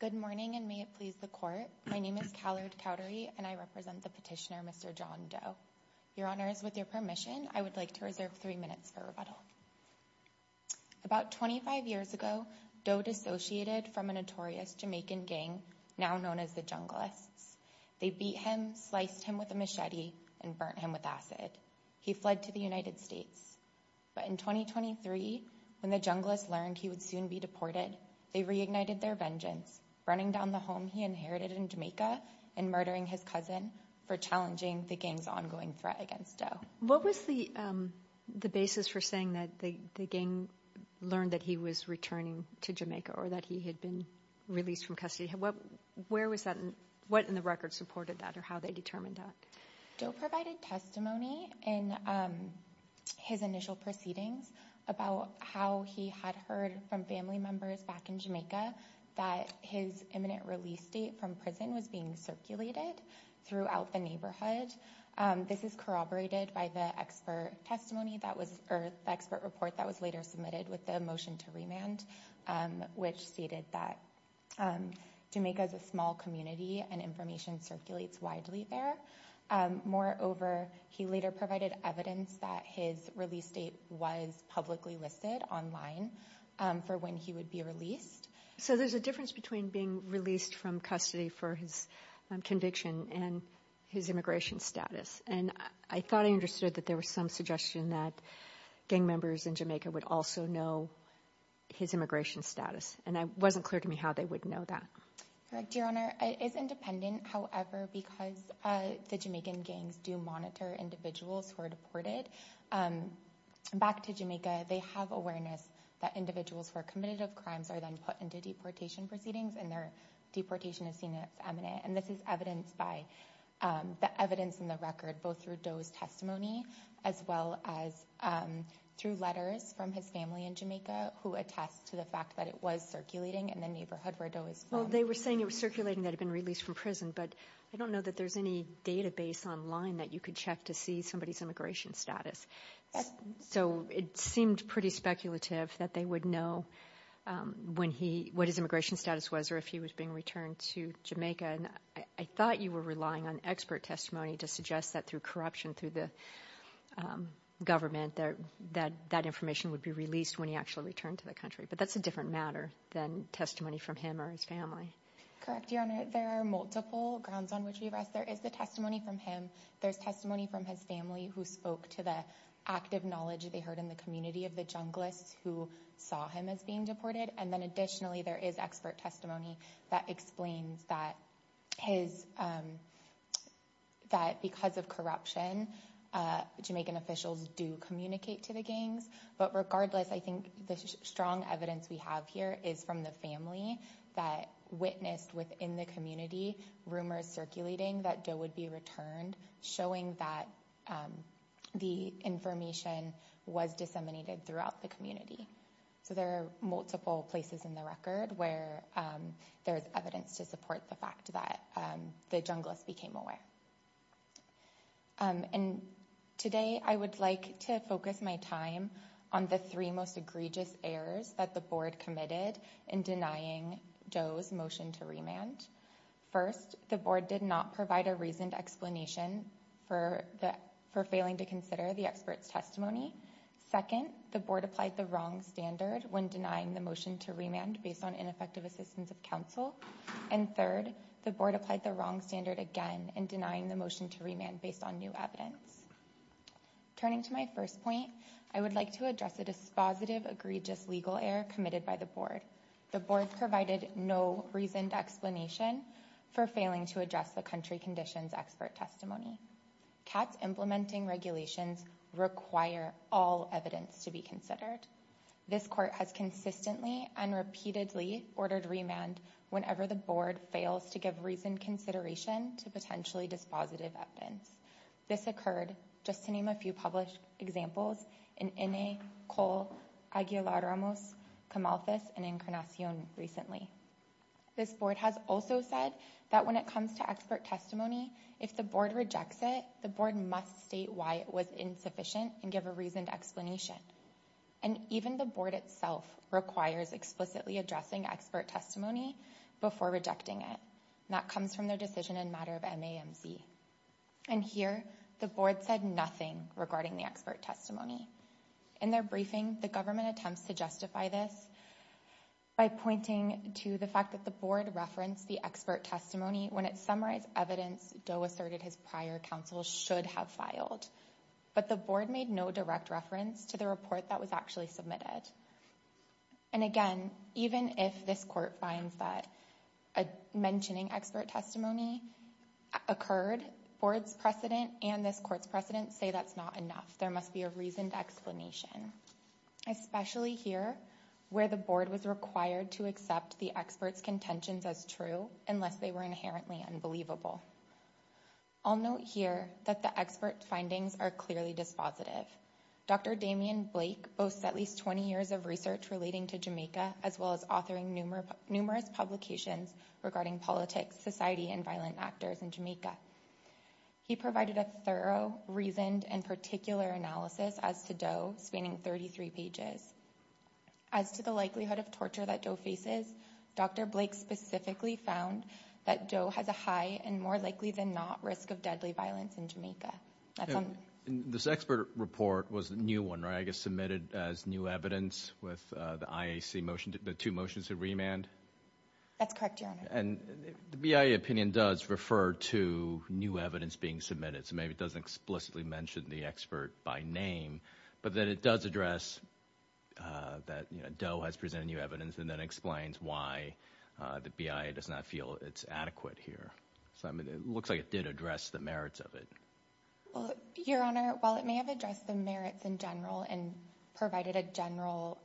Good morning, and may it please the Court, my name is Callard Cowdery, and I represent the petitioner, Mr. John Doe. Your Honors, with your permission, I would like to reserve three minutes for rebuttal. About 25 years ago, Doe dissociated from a notorious Jamaican gang now known as the Junglists. They beat him, sliced him with a machete, and burnt him with acid. He fled to the United States, but in 2023, when the Junglists learned he would soon be deported, they reignited their vengeance, running down the home he inherited in Jamaica and murdering his cousin for challenging the gang's ongoing threat against Doe. What was the basis for saying that the gang learned that he was returning to Jamaica, or that he had been released from custody? What in the record supported that, or how they determined that? Doe provided testimony in his initial proceedings about how he had heard from family members back in Jamaica that his imminent release date from prison was being circulated throughout the neighborhood. This is corroborated by the expert report that was later submitted with the motion to remand, which stated that Jamaica is a small community and information circulates widely there. Moreover, he later provided evidence that his release date was publicly listed online for when he would be released. So there's a difference between being released from custody for his conviction and his immigration status, and I thought I understood that there was some suggestion that gang members in Jamaica would also know his immigration status, and it wasn't clear to me how they would know that. Correct, Your Honor. It is independent, however, because the Jamaican gangs do monitor individuals who are deported back to Jamaica. They have awareness that individuals who are committed of crimes are then put into deportation proceedings, and their deportation is seen as imminent. And this is evidenced by the evidence in the record, both through Doe's testimony, as well as through letters from his family in Jamaica, who attest to the fact that it was circulating in the neighborhood where Doe is from. Well, they were saying it was circulating that he had been released from prison, but I don't know that there's any database online that you could check to see somebody's immigration status. So it seemed pretty speculative that they would know what his immigration status was or if he was being returned to Jamaica, and I thought you were relying on expert testimony to suggest that through corruption through the government that that information would be released when he actually returned to the country, but that's a different matter than testimony from him or his family. Correct, Your Honor. There are multiple grounds on which we rest. There is the testimony from him. There's testimony from his family who spoke to the active knowledge they heard in the community of the Junglists who saw him as being deported, and then additionally, there is expert testimony that explains that because of corruption, Jamaican officials do communicate to the gangs. But regardless, I think the strong evidence we have here is from the family that witnessed within the community rumors circulating that Joe would be returned, showing that the information was disseminated throughout the community. So there are multiple places in the record where there's evidence to support the fact that the Junglists became aware. And today, I would like to focus my time on the three most egregious errors that the board committed in denying Joe's motion to remand. First, the board did not provide a reasoned explanation for failing to consider the expert's Second, the board applied the wrong standard when denying the motion to remand based on ineffective assistance of counsel. And third, the board applied the wrong standard again in denying the motion to remand based on new evidence. Turning to my first point, I would like to address a dispositive egregious legal error committed by the board. The board provided no reasoned explanation for failing to address the country conditions expert testimony. Cats implementing regulations require all evidence to be considered. This court has consistently and repeatedly ordered remand whenever the board fails to give reasoned consideration to potentially dispositive evidence. This occurred, just to name a few published examples, in Ine, Cole, Aguilar-Ramos, Camalthus, and Encarnacion recently. This board has also said that when it comes to expert testimony, if the board rejects it, the board must state why it was insufficient and give a reasoned explanation. And even the board itself requires explicitly addressing expert testimony before rejecting it. And that comes from their decision in matter of MAMC. And here, the board said nothing regarding the expert testimony. In their briefing, the government attempts to justify this by pointing to the fact that the board referenced the expert testimony when it summarized evidence Doe asserted his prior counsel should have filed. But the board made no direct reference to the report that was actually submitted. And again, even if this court finds that a mentioning expert testimony occurred, board's precedent and this court's precedent say that's not enough. There must be a reasoned explanation. Especially here, where the board was required to accept the expert's contentions as true unless they were inherently unbelievable. I'll note here that the expert findings are clearly dispositive. Dr. Damien Blake boasts at least 20 years of research relating to Jamaica as well as authoring numerous publications regarding politics, society, and violent actors in Jamaica. He provided a thorough, reasoned, and particular analysis as to Doe, spanning 33 pages. As to the likelihood of torture that Doe faces, Dr. Blake specifically found that Doe has a high and more likely than not risk of deadly violence in Jamaica. This expert report was a new one, right? I guess submitted as new evidence with the IAC motion, the two motions to remand? That's correct, Your Honor. And the BIA opinion does refer to new evidence being submitted. So maybe it doesn't explicitly mention the expert by name, but that it does address that Doe has presented new evidence and then explains why the BIA does not feel it's adequate here. It looks like it did address the merits of it. Your Honor, while it may have addressed the merits in general and provided a general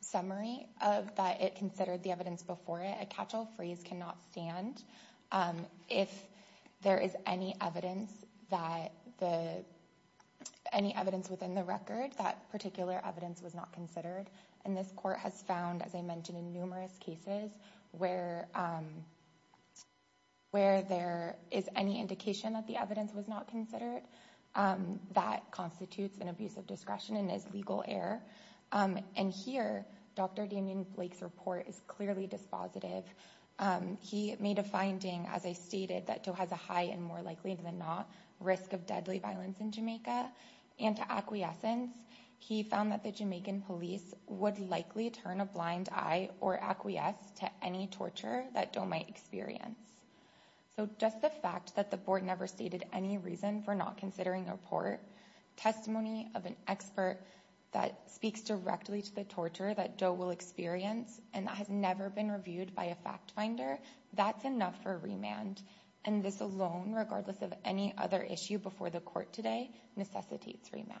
summary of that it considered the evidence before it, a catch-all phrase cannot stand. If there is any evidence within the record, that particular evidence was not considered. And this court has found, as I mentioned, in numerous cases where there is any indication that the evidence was not considered, that constitutes an abuse of discretion and is legal error. And here, Dr. Damien Blake's report is clearly dispositive. He made a finding, as I stated, that Doe has a high and more likely than not risk of deadly violence in Jamaica. And to acquiescence, he found that the Jamaican police would likely turn a blind eye or acquiesce to any torture that Doe might experience. So just the fact that the board never stated any reason for not considering a report, testimony of an expert that speaks directly to the torture that Doe will experience and that has never been reviewed by a fact-finder, that's enough for remand. And this alone, regardless of any other issue before the court today, necessitates remand.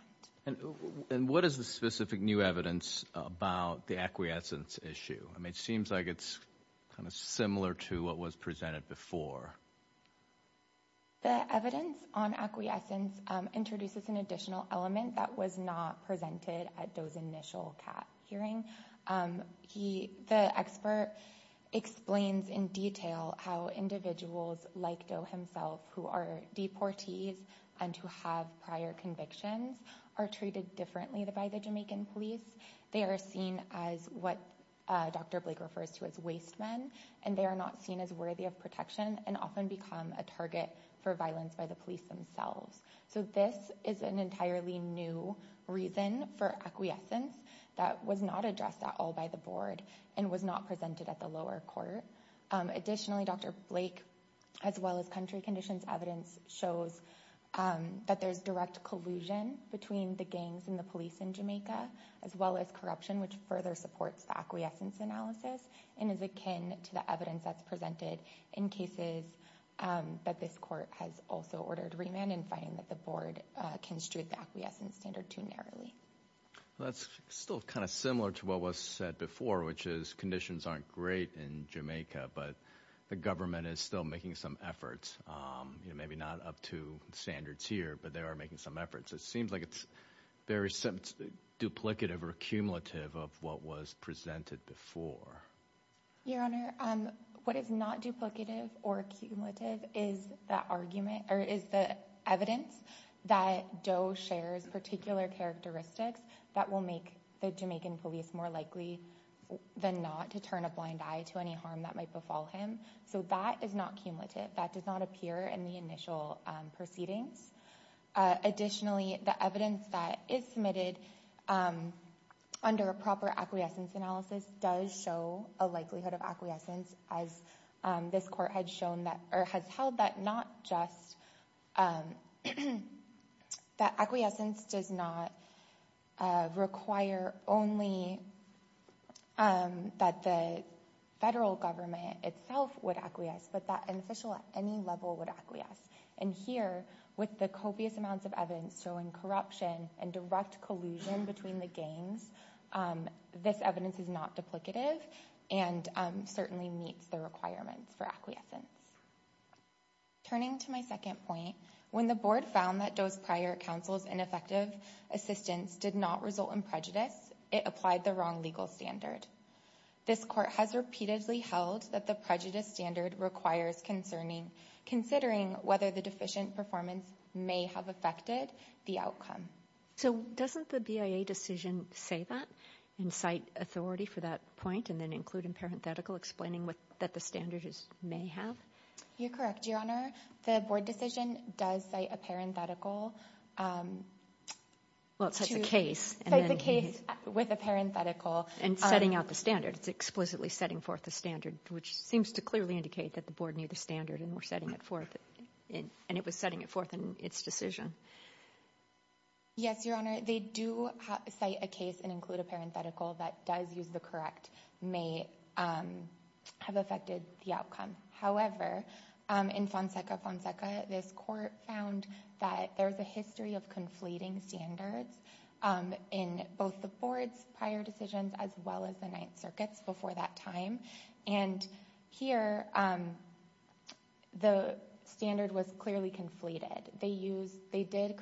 And what is the specific new evidence about the acquiescence issue? I mean, it seems like it's kind of similar to what was presented before. The evidence on acquiescence introduces an additional element that was not presented at Doe's initial CAT hearing. The expert explains in detail how individuals like Doe himself who are deportees and who have prior convictions are treated differently by the Jamaican police. They are seen as what Dr. Blake refers to as waste men, and they are not seen as worthy of protection and often become a target for violence by the police themselves. So this is an entirely new reason for acquiescence that was not addressed at all by the board and was not presented at the lower court. Additionally, Dr. Blake, as well as country conditions evidence, shows that there's direct collusion between the gangs and the police in Jamaica, as well as corruption, which further supports the acquiescence analysis and is akin to the evidence that's presented in cases that this court has also ordered remand, and finding that the board construed the acquiescence standard too narrowly. That's still kind of similar to what was said before, which is conditions aren't great in Jamaica, but the government is still making some efforts, maybe not up to standards here, but they are making some efforts. It seems like it's very duplicative or cumulative of what was presented before. Your Honor, what is not duplicative or cumulative is the evidence that Doe shares particular characteristics that will make the Jamaican police more likely than not to turn a blind eye to any harm that might befall him. So that is not cumulative. That does not appear in the initial proceedings. Additionally, the evidence that is submitted under a proper acquiescence analysis does show a likelihood of acquiescence, as this court has held that acquiescence does not require only that the federal government itself would acquiesce, but that an official at any level would acquiesce. And here, with the copious amounts of evidence showing corruption and direct collusion between the gangs, this evidence is not duplicative and certainly meets the requirements for acquiescence. Turning to my second point, when the board found that Doe's prior counsel's ineffective assistance did not result in prejudice, it applied the wrong legal standard. This court has repeatedly held that the prejudice standard requires considering whether the deficient performance may have affected the outcome. So doesn't the BIA decision say that, and cite authority for that point, and then include in parenthetical explaining that the standard may have? You're correct, Your Honor. The board decision does cite a parenthetical. Well, it cites a case. Cites a case with a parenthetical. And setting out the standard. It's explicitly setting forth the standard, which seems to clearly indicate that the board knew the standard and were setting it forth, and it was setting it forth in its decision. Yes, Your Honor. They do cite a case and include a parenthetical that does use the correct may have affected the outcome. However, in Fonseca Fonseca, this court found that there's a history of conflating standards. In both the board's prior decisions as well as the Ninth Circuit's before that time. And here, the standard was clearly conflated. They did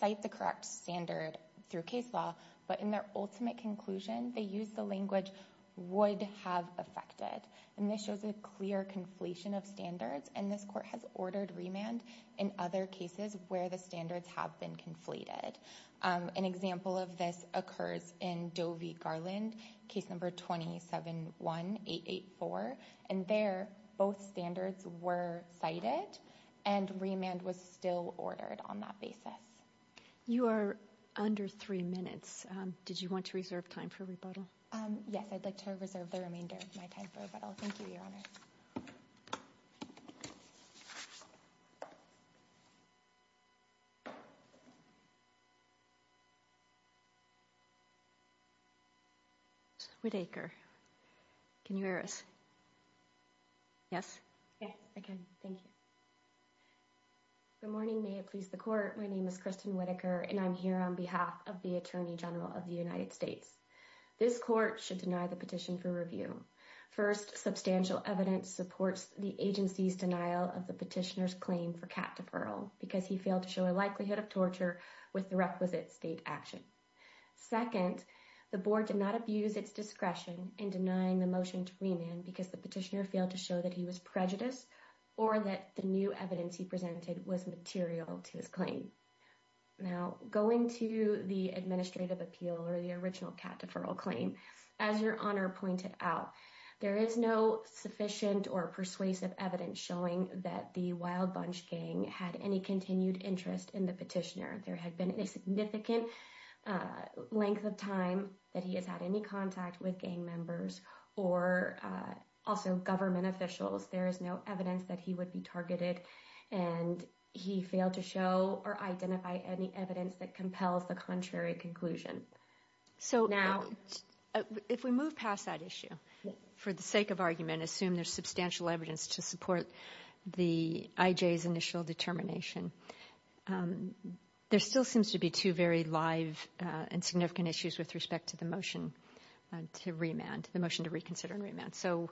cite the correct standard through case law, but in their ultimate conclusion, they used the language would have affected. And this shows a clear conflation of standards, and this court has ordered remand in other cases where the standards have been conflated. An example of this occurs in Doe v. Garland, case number 271884. And there, both standards were cited and remand was still ordered on that basis. You are under three minutes. Did you want to reserve time for rebuttal? Yes, I'd like to reserve the remainder of my time for rebuttal. Thank you, Your Honor. Whitaker, can you hear us? Yes. Yes, I can. Thank you. Good morning. May it please the court. My name is Kristen Whitaker, and I'm here on behalf of the Attorney General of the United States. This court should deny the petition for review. First, substantial evidence supports the agency's denial of the petitioner's claim for cat deferral because he failed to show a likelihood of torture with the requisite state action. Second, the board did not abuse its discretion in denying the motion to remand because the petitioner failed to show that he was prejudiced or that the new evidence he presented was material to his claim. Now, going to the administrative appeal or the original cat deferral claim, as Your Honor pointed out, there is no sufficient or persuasive evidence showing that the Wild Bunch gang had any continued interest in the petitioner. There had been a significant length of time that he has had any contact with gang members or also government officials. There is no evidence that he would be targeted, and he failed to show or identify any evidence that compels the contrary conclusion. So if we move past that issue for the sake of argument, assume there's substantial evidence to support the IJ's initial determination, there still seems to be two very live and significant issues with respect to the motion to remand, the motion to reconsider and remand. So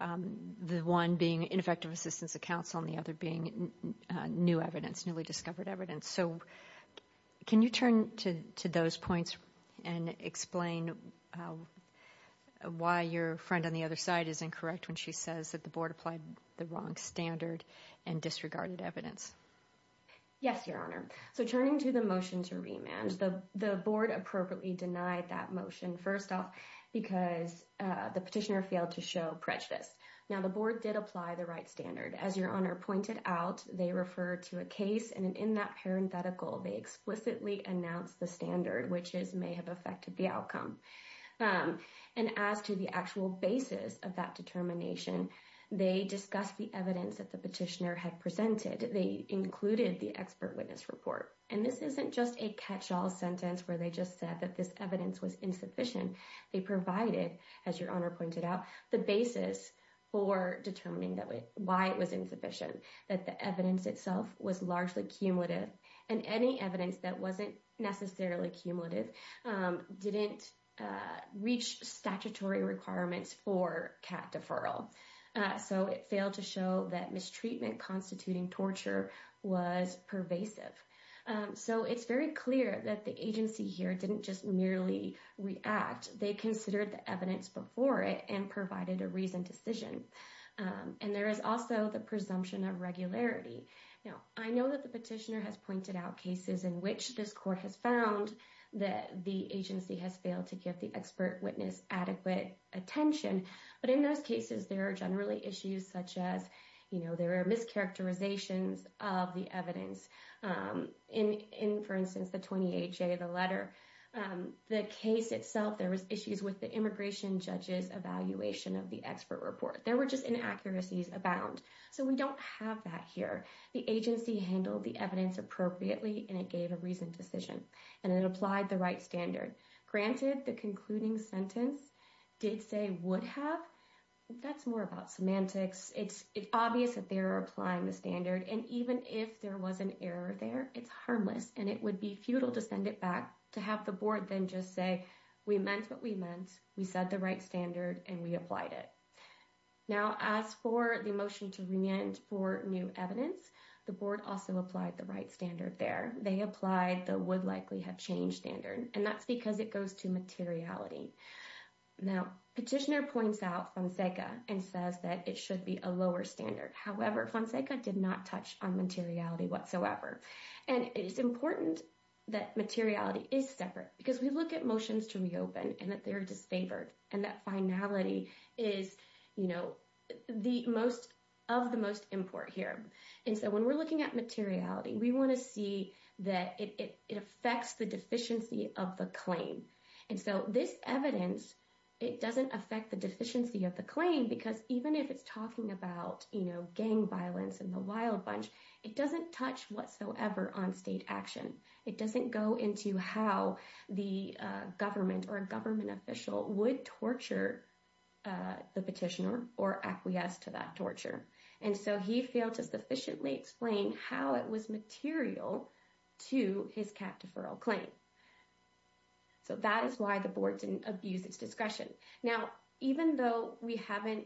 the one being ineffective assistance of counsel and the other being new evidence, newly discovered evidence. So can you turn to those points and explain why your friend on the other side is incorrect when she says that the board applied the wrong standard and disregarded evidence? Yes, Your Honor. So turning to the motion to remand, the board appropriately denied that motion, first off, because the petitioner failed to show prejudice. Now, the board did apply the right standard. As Your Honor pointed out, they referred to a case, and in that parenthetical, they explicitly announced the standard, which may have affected the outcome. And as to the actual basis of that determination, they discussed the evidence that the petitioner had presented. They included the expert witness report. And this isn't just a catch-all sentence where they just said that this evidence was insufficient. They provided, as Your Honor pointed out, the basis for determining why it was insufficient, that the evidence itself was largely cumulative. And any evidence that wasn't necessarily cumulative didn't reach statutory requirements for CAT deferral. So it failed to show that mistreatment constituting torture was pervasive. So it's very clear that the agency here didn't just merely react. They considered the evidence before it and provided a reasoned decision. And there is also the presumption of regularity. Now, I know that the petitioner has pointed out cases in which this court has found that the agency has failed to give the expert witness adequate attention. But in those cases, there are generally issues such as, you know, there are mischaracterizations of the evidence. In, for instance, the 28-J, the letter, the case itself, there was issues with the immigration judge's evaluation of the expert report. There were just inaccuracies abound. So we don't have that here. The agency handled the evidence appropriately, and it gave a reasoned decision. And it applied the right standard. Granted, the concluding sentence did say would have. That's more about semantics. It's obvious that they're applying the standard. And even if there was an error there, it's harmless. And it would be futile to send it back to have the board then just say, we meant what we meant. We said the right standard, and we applied it. Now, as for the motion to reenter for new evidence, the board also applied the right standard there. They applied the would likely have changed standard. And that's because it goes to materiality. Now, Petitioner points out Fonseca and says that it should be a lower standard. However, Fonseca did not touch on materiality whatsoever. And it is important that materiality is separate because we look at motions to reopen and that they're disfavored. And that finality is, you know, the most of the most important here. And so when we're looking at materiality, we want to see that it affects the deficiency of the claim. And so this evidence, it doesn't affect the deficiency of the claim. Because even if it's talking about, you know, gang violence and the wild bunch, it doesn't touch whatsoever on state action. It doesn't go into how the government or a government official would torture the petitioner or acquiesce to that torture. And so he failed to sufficiently explain how it was material to his cat deferral claim. So that is why the board didn't abuse its discretion. Now, even though we haven't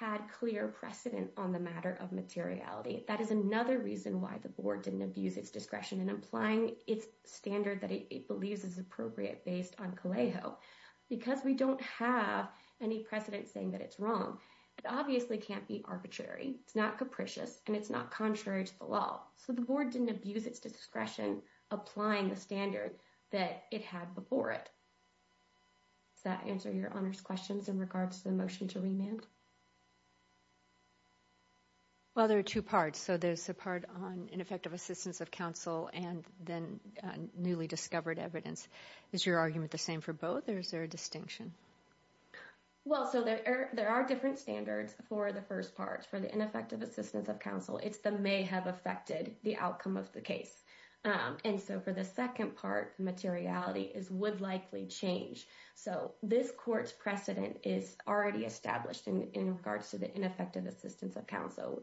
had clear precedent on the matter of materiality, that is another reason why the board didn't abuse its discretion in applying its standard that it believes is appropriate based on Calejo. Because we don't have any precedent saying that it's wrong, it obviously can't be arbitrary. It's not capricious and it's not contrary to the law. So the board didn't abuse its discretion applying the standard that it had before it. Does that answer your honors questions in regards to the motion to remand? Well, there are two parts. So there's a part on ineffective assistance of counsel and then newly discovered evidence. Is your argument the same for both or is there a distinction? Well, so there are different standards for the first part for the ineffective assistance of counsel. It's the may have affected the outcome of the case. And so for the second part, materiality is would likely change. So this court's precedent is already established in regards to the ineffective assistance of counsel.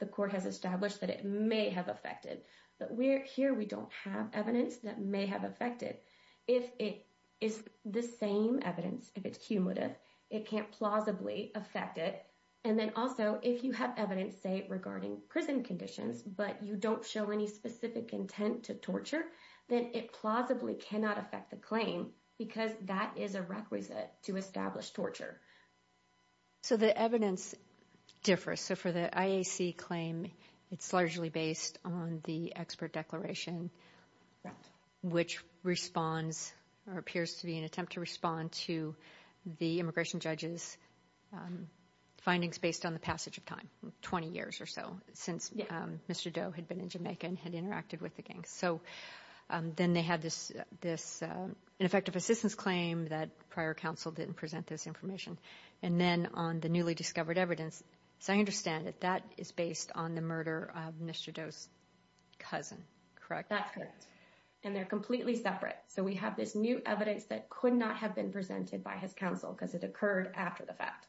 The court has established that it may have affected. But here we don't have evidence that may have affected. If it is the same evidence, if it's cumulative, it can't plausibly affect it. And then also, if you have evidence, say, regarding prison conditions, but you don't show any specific intent to torture, then it plausibly cannot affect the claim because that is a requisite to establish torture. So the evidence differs. So for the IAC claim, it's largely based on the expert declaration, which responds or appears to be an attempt to respond to the immigration judge's findings based on the passage of time, 20 years or so since Mr. Doe had been in Jamaica and had interacted with the gang. So then they had this ineffective assistance claim that prior counsel didn't present this information. And then on the newly discovered evidence. So I understand that that is based on the murder of Mr. Doe's cousin, correct? That's correct. And they're completely separate. So we have this new evidence that could not have been presented by his counsel because it occurred after the fact.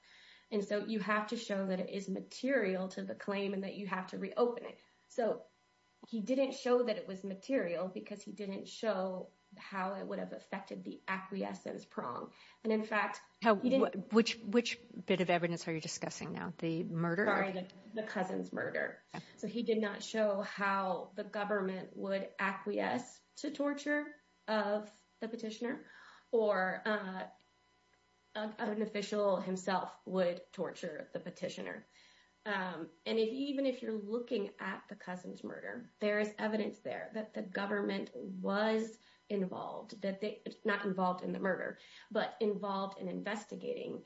And so you have to show that it is material to the claim and that you have to reopen it. So he didn't show that it was material because he didn't show how it would have affected the acquiescence prong. And in fact, which which bit of evidence are you discussing now? The murder? Sorry, the cousin's murder. So he did not show how the government would acquiesce to torture of the petitioner or an official himself would torture the petitioner. And even if you're looking at the cousin's murder, there is evidence there that the government was involved, not involved in the murder, but involved in investigating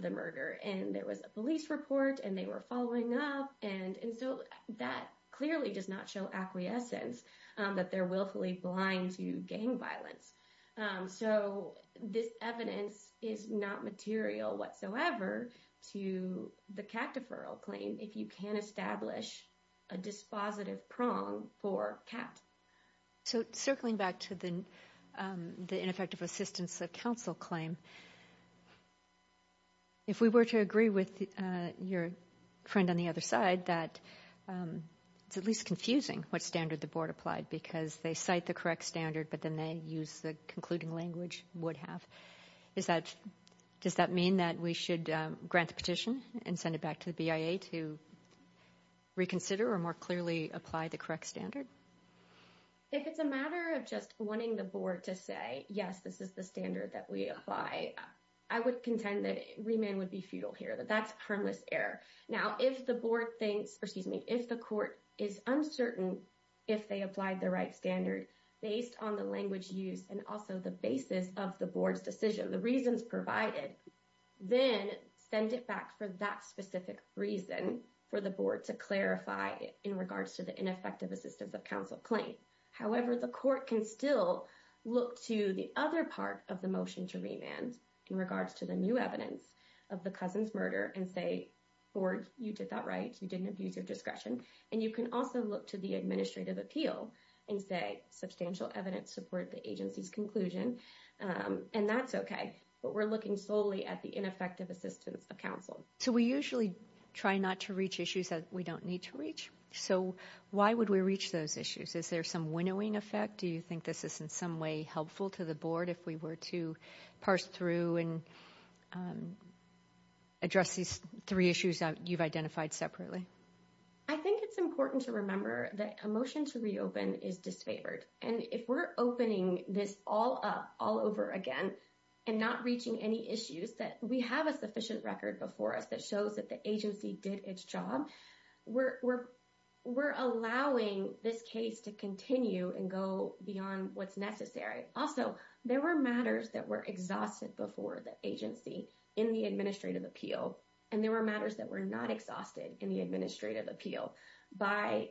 the murder. And there was a police report and they were following up. And so that clearly does not show acquiescence that they're willfully blind to gang violence. So this evidence is not material whatsoever to the cat deferral claim. If you can establish a dispositive prong for cat. So circling back to the the ineffective assistance of counsel claim. If we were to agree with your friend on the other side that it's at least confusing what standard the board applied because they cite the correct standard, but then they use the concluding language would have is that does that mean that we should grant the petition and send it back to the BIA to reconsider or more clearly apply the correct standard? If it's a matter of just wanting the board to say, yes, this is the standard that we apply. I would contend that remand would be futile here, that that's harmless error. Now, if the board thinks or excuse me, if the court is uncertain, if they applied the right standard based on the language used and also the basis of the board's decision, the reasons provided, then send it back for that specific reason for the board to clarify in regards to the ineffective assistance of counsel claim. However, the court can still look to the other part of the motion to remand in regards to the new evidence of the cousin's murder and say, or you did that right. You didn't abuse your discretion. And you can also look to the administrative appeal and say substantial evidence support the agency's conclusion. And that's OK. But we're looking solely at the ineffective assistance of counsel. So we usually try not to reach issues that we don't need to reach. So why would we reach those issues? Is there some winnowing effect? Do you think this is in some way helpful to the board if we were to parse through and address these three issues that you've identified separately? I think it's important to remember that a motion to reopen is disfavored. And if we're opening this all up all over again and not reaching any issues that we have a sufficient record before us that shows that the agency did its job, we're we're allowing this case to continue and go beyond what's necessary. Also, there were matters that were exhausted before the agency in the administrative appeal. And there were matters that were not exhausted in the administrative appeal by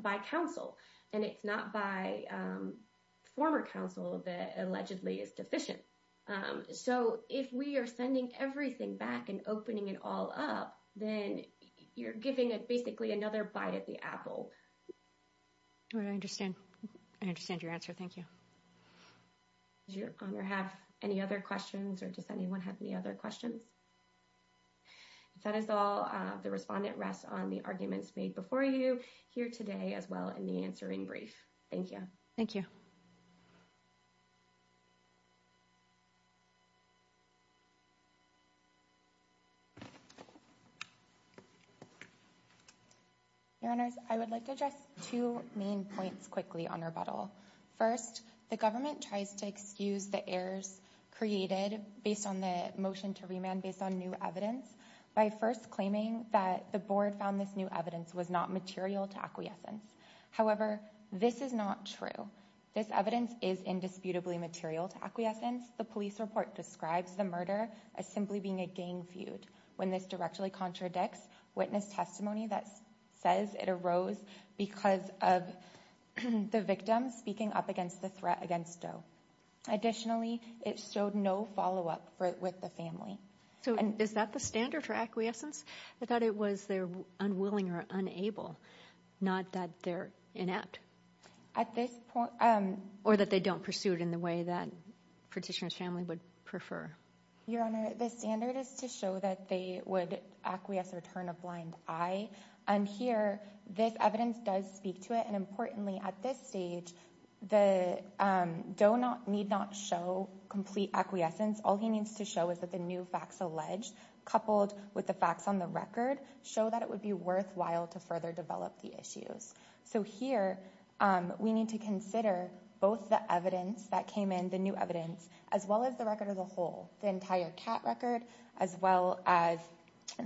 by counsel. And it's not by former counsel that allegedly is deficient. So if we are sending everything back and opening it all up, then you're giving it basically another bite at the apple. I understand. I understand your answer. Thank you. Does your honor have any other questions or does anyone have any other questions? That is all the respondent rests on the arguments made before you here today as well in the answering brief. Thank you. Thank you. Your Honor, I would like to address two main points quickly on rebuttal. First, the government tries to excuse the errors created based on the motion to remand based on new evidence by first claiming that the board found this new evidence was not material to acquiescence. However, this is not true. This evidence is indisputably material to acquiescence. The police report describes the murder as simply being a gang feud when this directly contradicts witness testimony that says it arose because of the victim speaking up against the threat against Joe. Additionally, it showed no follow up with the family. So is that the standard for acquiescence that it was there unwilling or unable, not that they're inept at this point or that they don't pursue it in the way that petitioners family would prefer? Your Honor, the standard is to show that they would acquiesce or turn a blind eye. And here this evidence does speak to it. And importantly, at this stage, the do not need not show complete acquiescence. All he needs to show is that the new facts alleged coupled with the facts on the record show that it would be worthwhile to further develop the issues. So here we need to consider both the evidence that came in, the new evidence, as well as the record as a whole, the entire cat record, as well as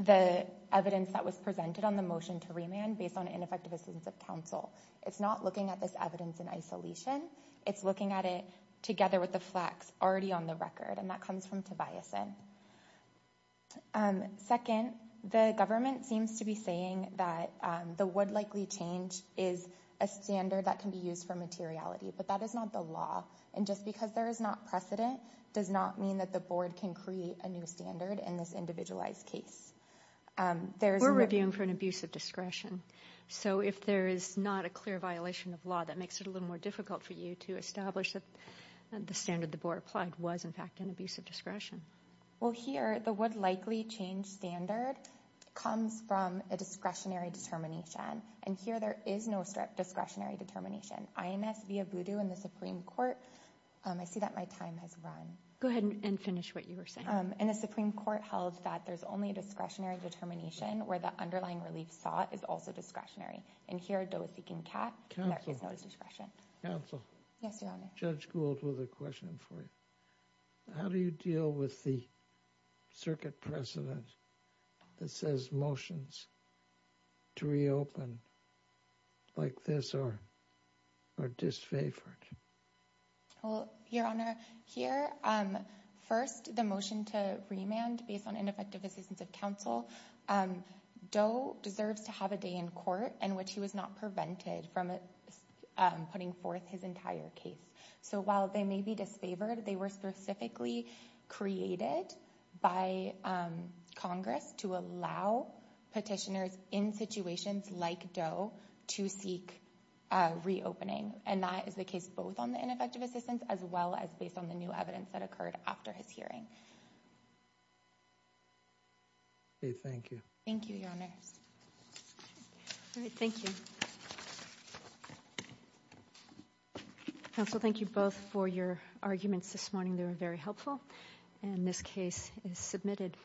the evidence that was presented on the motion to remand based on ineffective assistance of counsel. It's not looking at this evidence in isolation. It's looking at it together with the facts already on the record. And that comes from Tobiasen. Second, the government seems to be saying that the would likely change is a standard that can be used for materiality. But that is not the law. And just because there is not precedent does not mean that the board can create a new standard in this individualized case. We're reviewing for an abuse of discretion. So if there is not a clear violation of law, that makes it a little more difficult for you to establish that the standard the board applied was, in fact, an abuse of discretion. Well, here, the would likely change standard comes from a discretionary determination. And here there is no discretionary determination. INS via Voodoo in the Supreme Court. I see that my time has run. Go ahead and finish what you were saying. And the Supreme Court held that there's only a discretionary determination where the underlying relief sought is also discretionary. And here, though, is seeking cat. Council. Yes. Judge Gould with a question for you. How do you deal with the circuit precedent that says motions to reopen like this or are disfavored? Your Honor, here. First, the motion to remand based on ineffective assistance of counsel. Doe deserves to have a day in court in which he was not prevented from putting forth his entire case. So while they may be disfavored, they were specifically created by Congress to allow petitioners in situations like Doe to seek reopening. And that is the case both on the ineffective assistance as well as based on the new evidence that occurred after his hearing. Thank you. Thank you, Your Honor. Thank you. Thank you both for your arguments this morning. They were very helpful. And this case is submitted.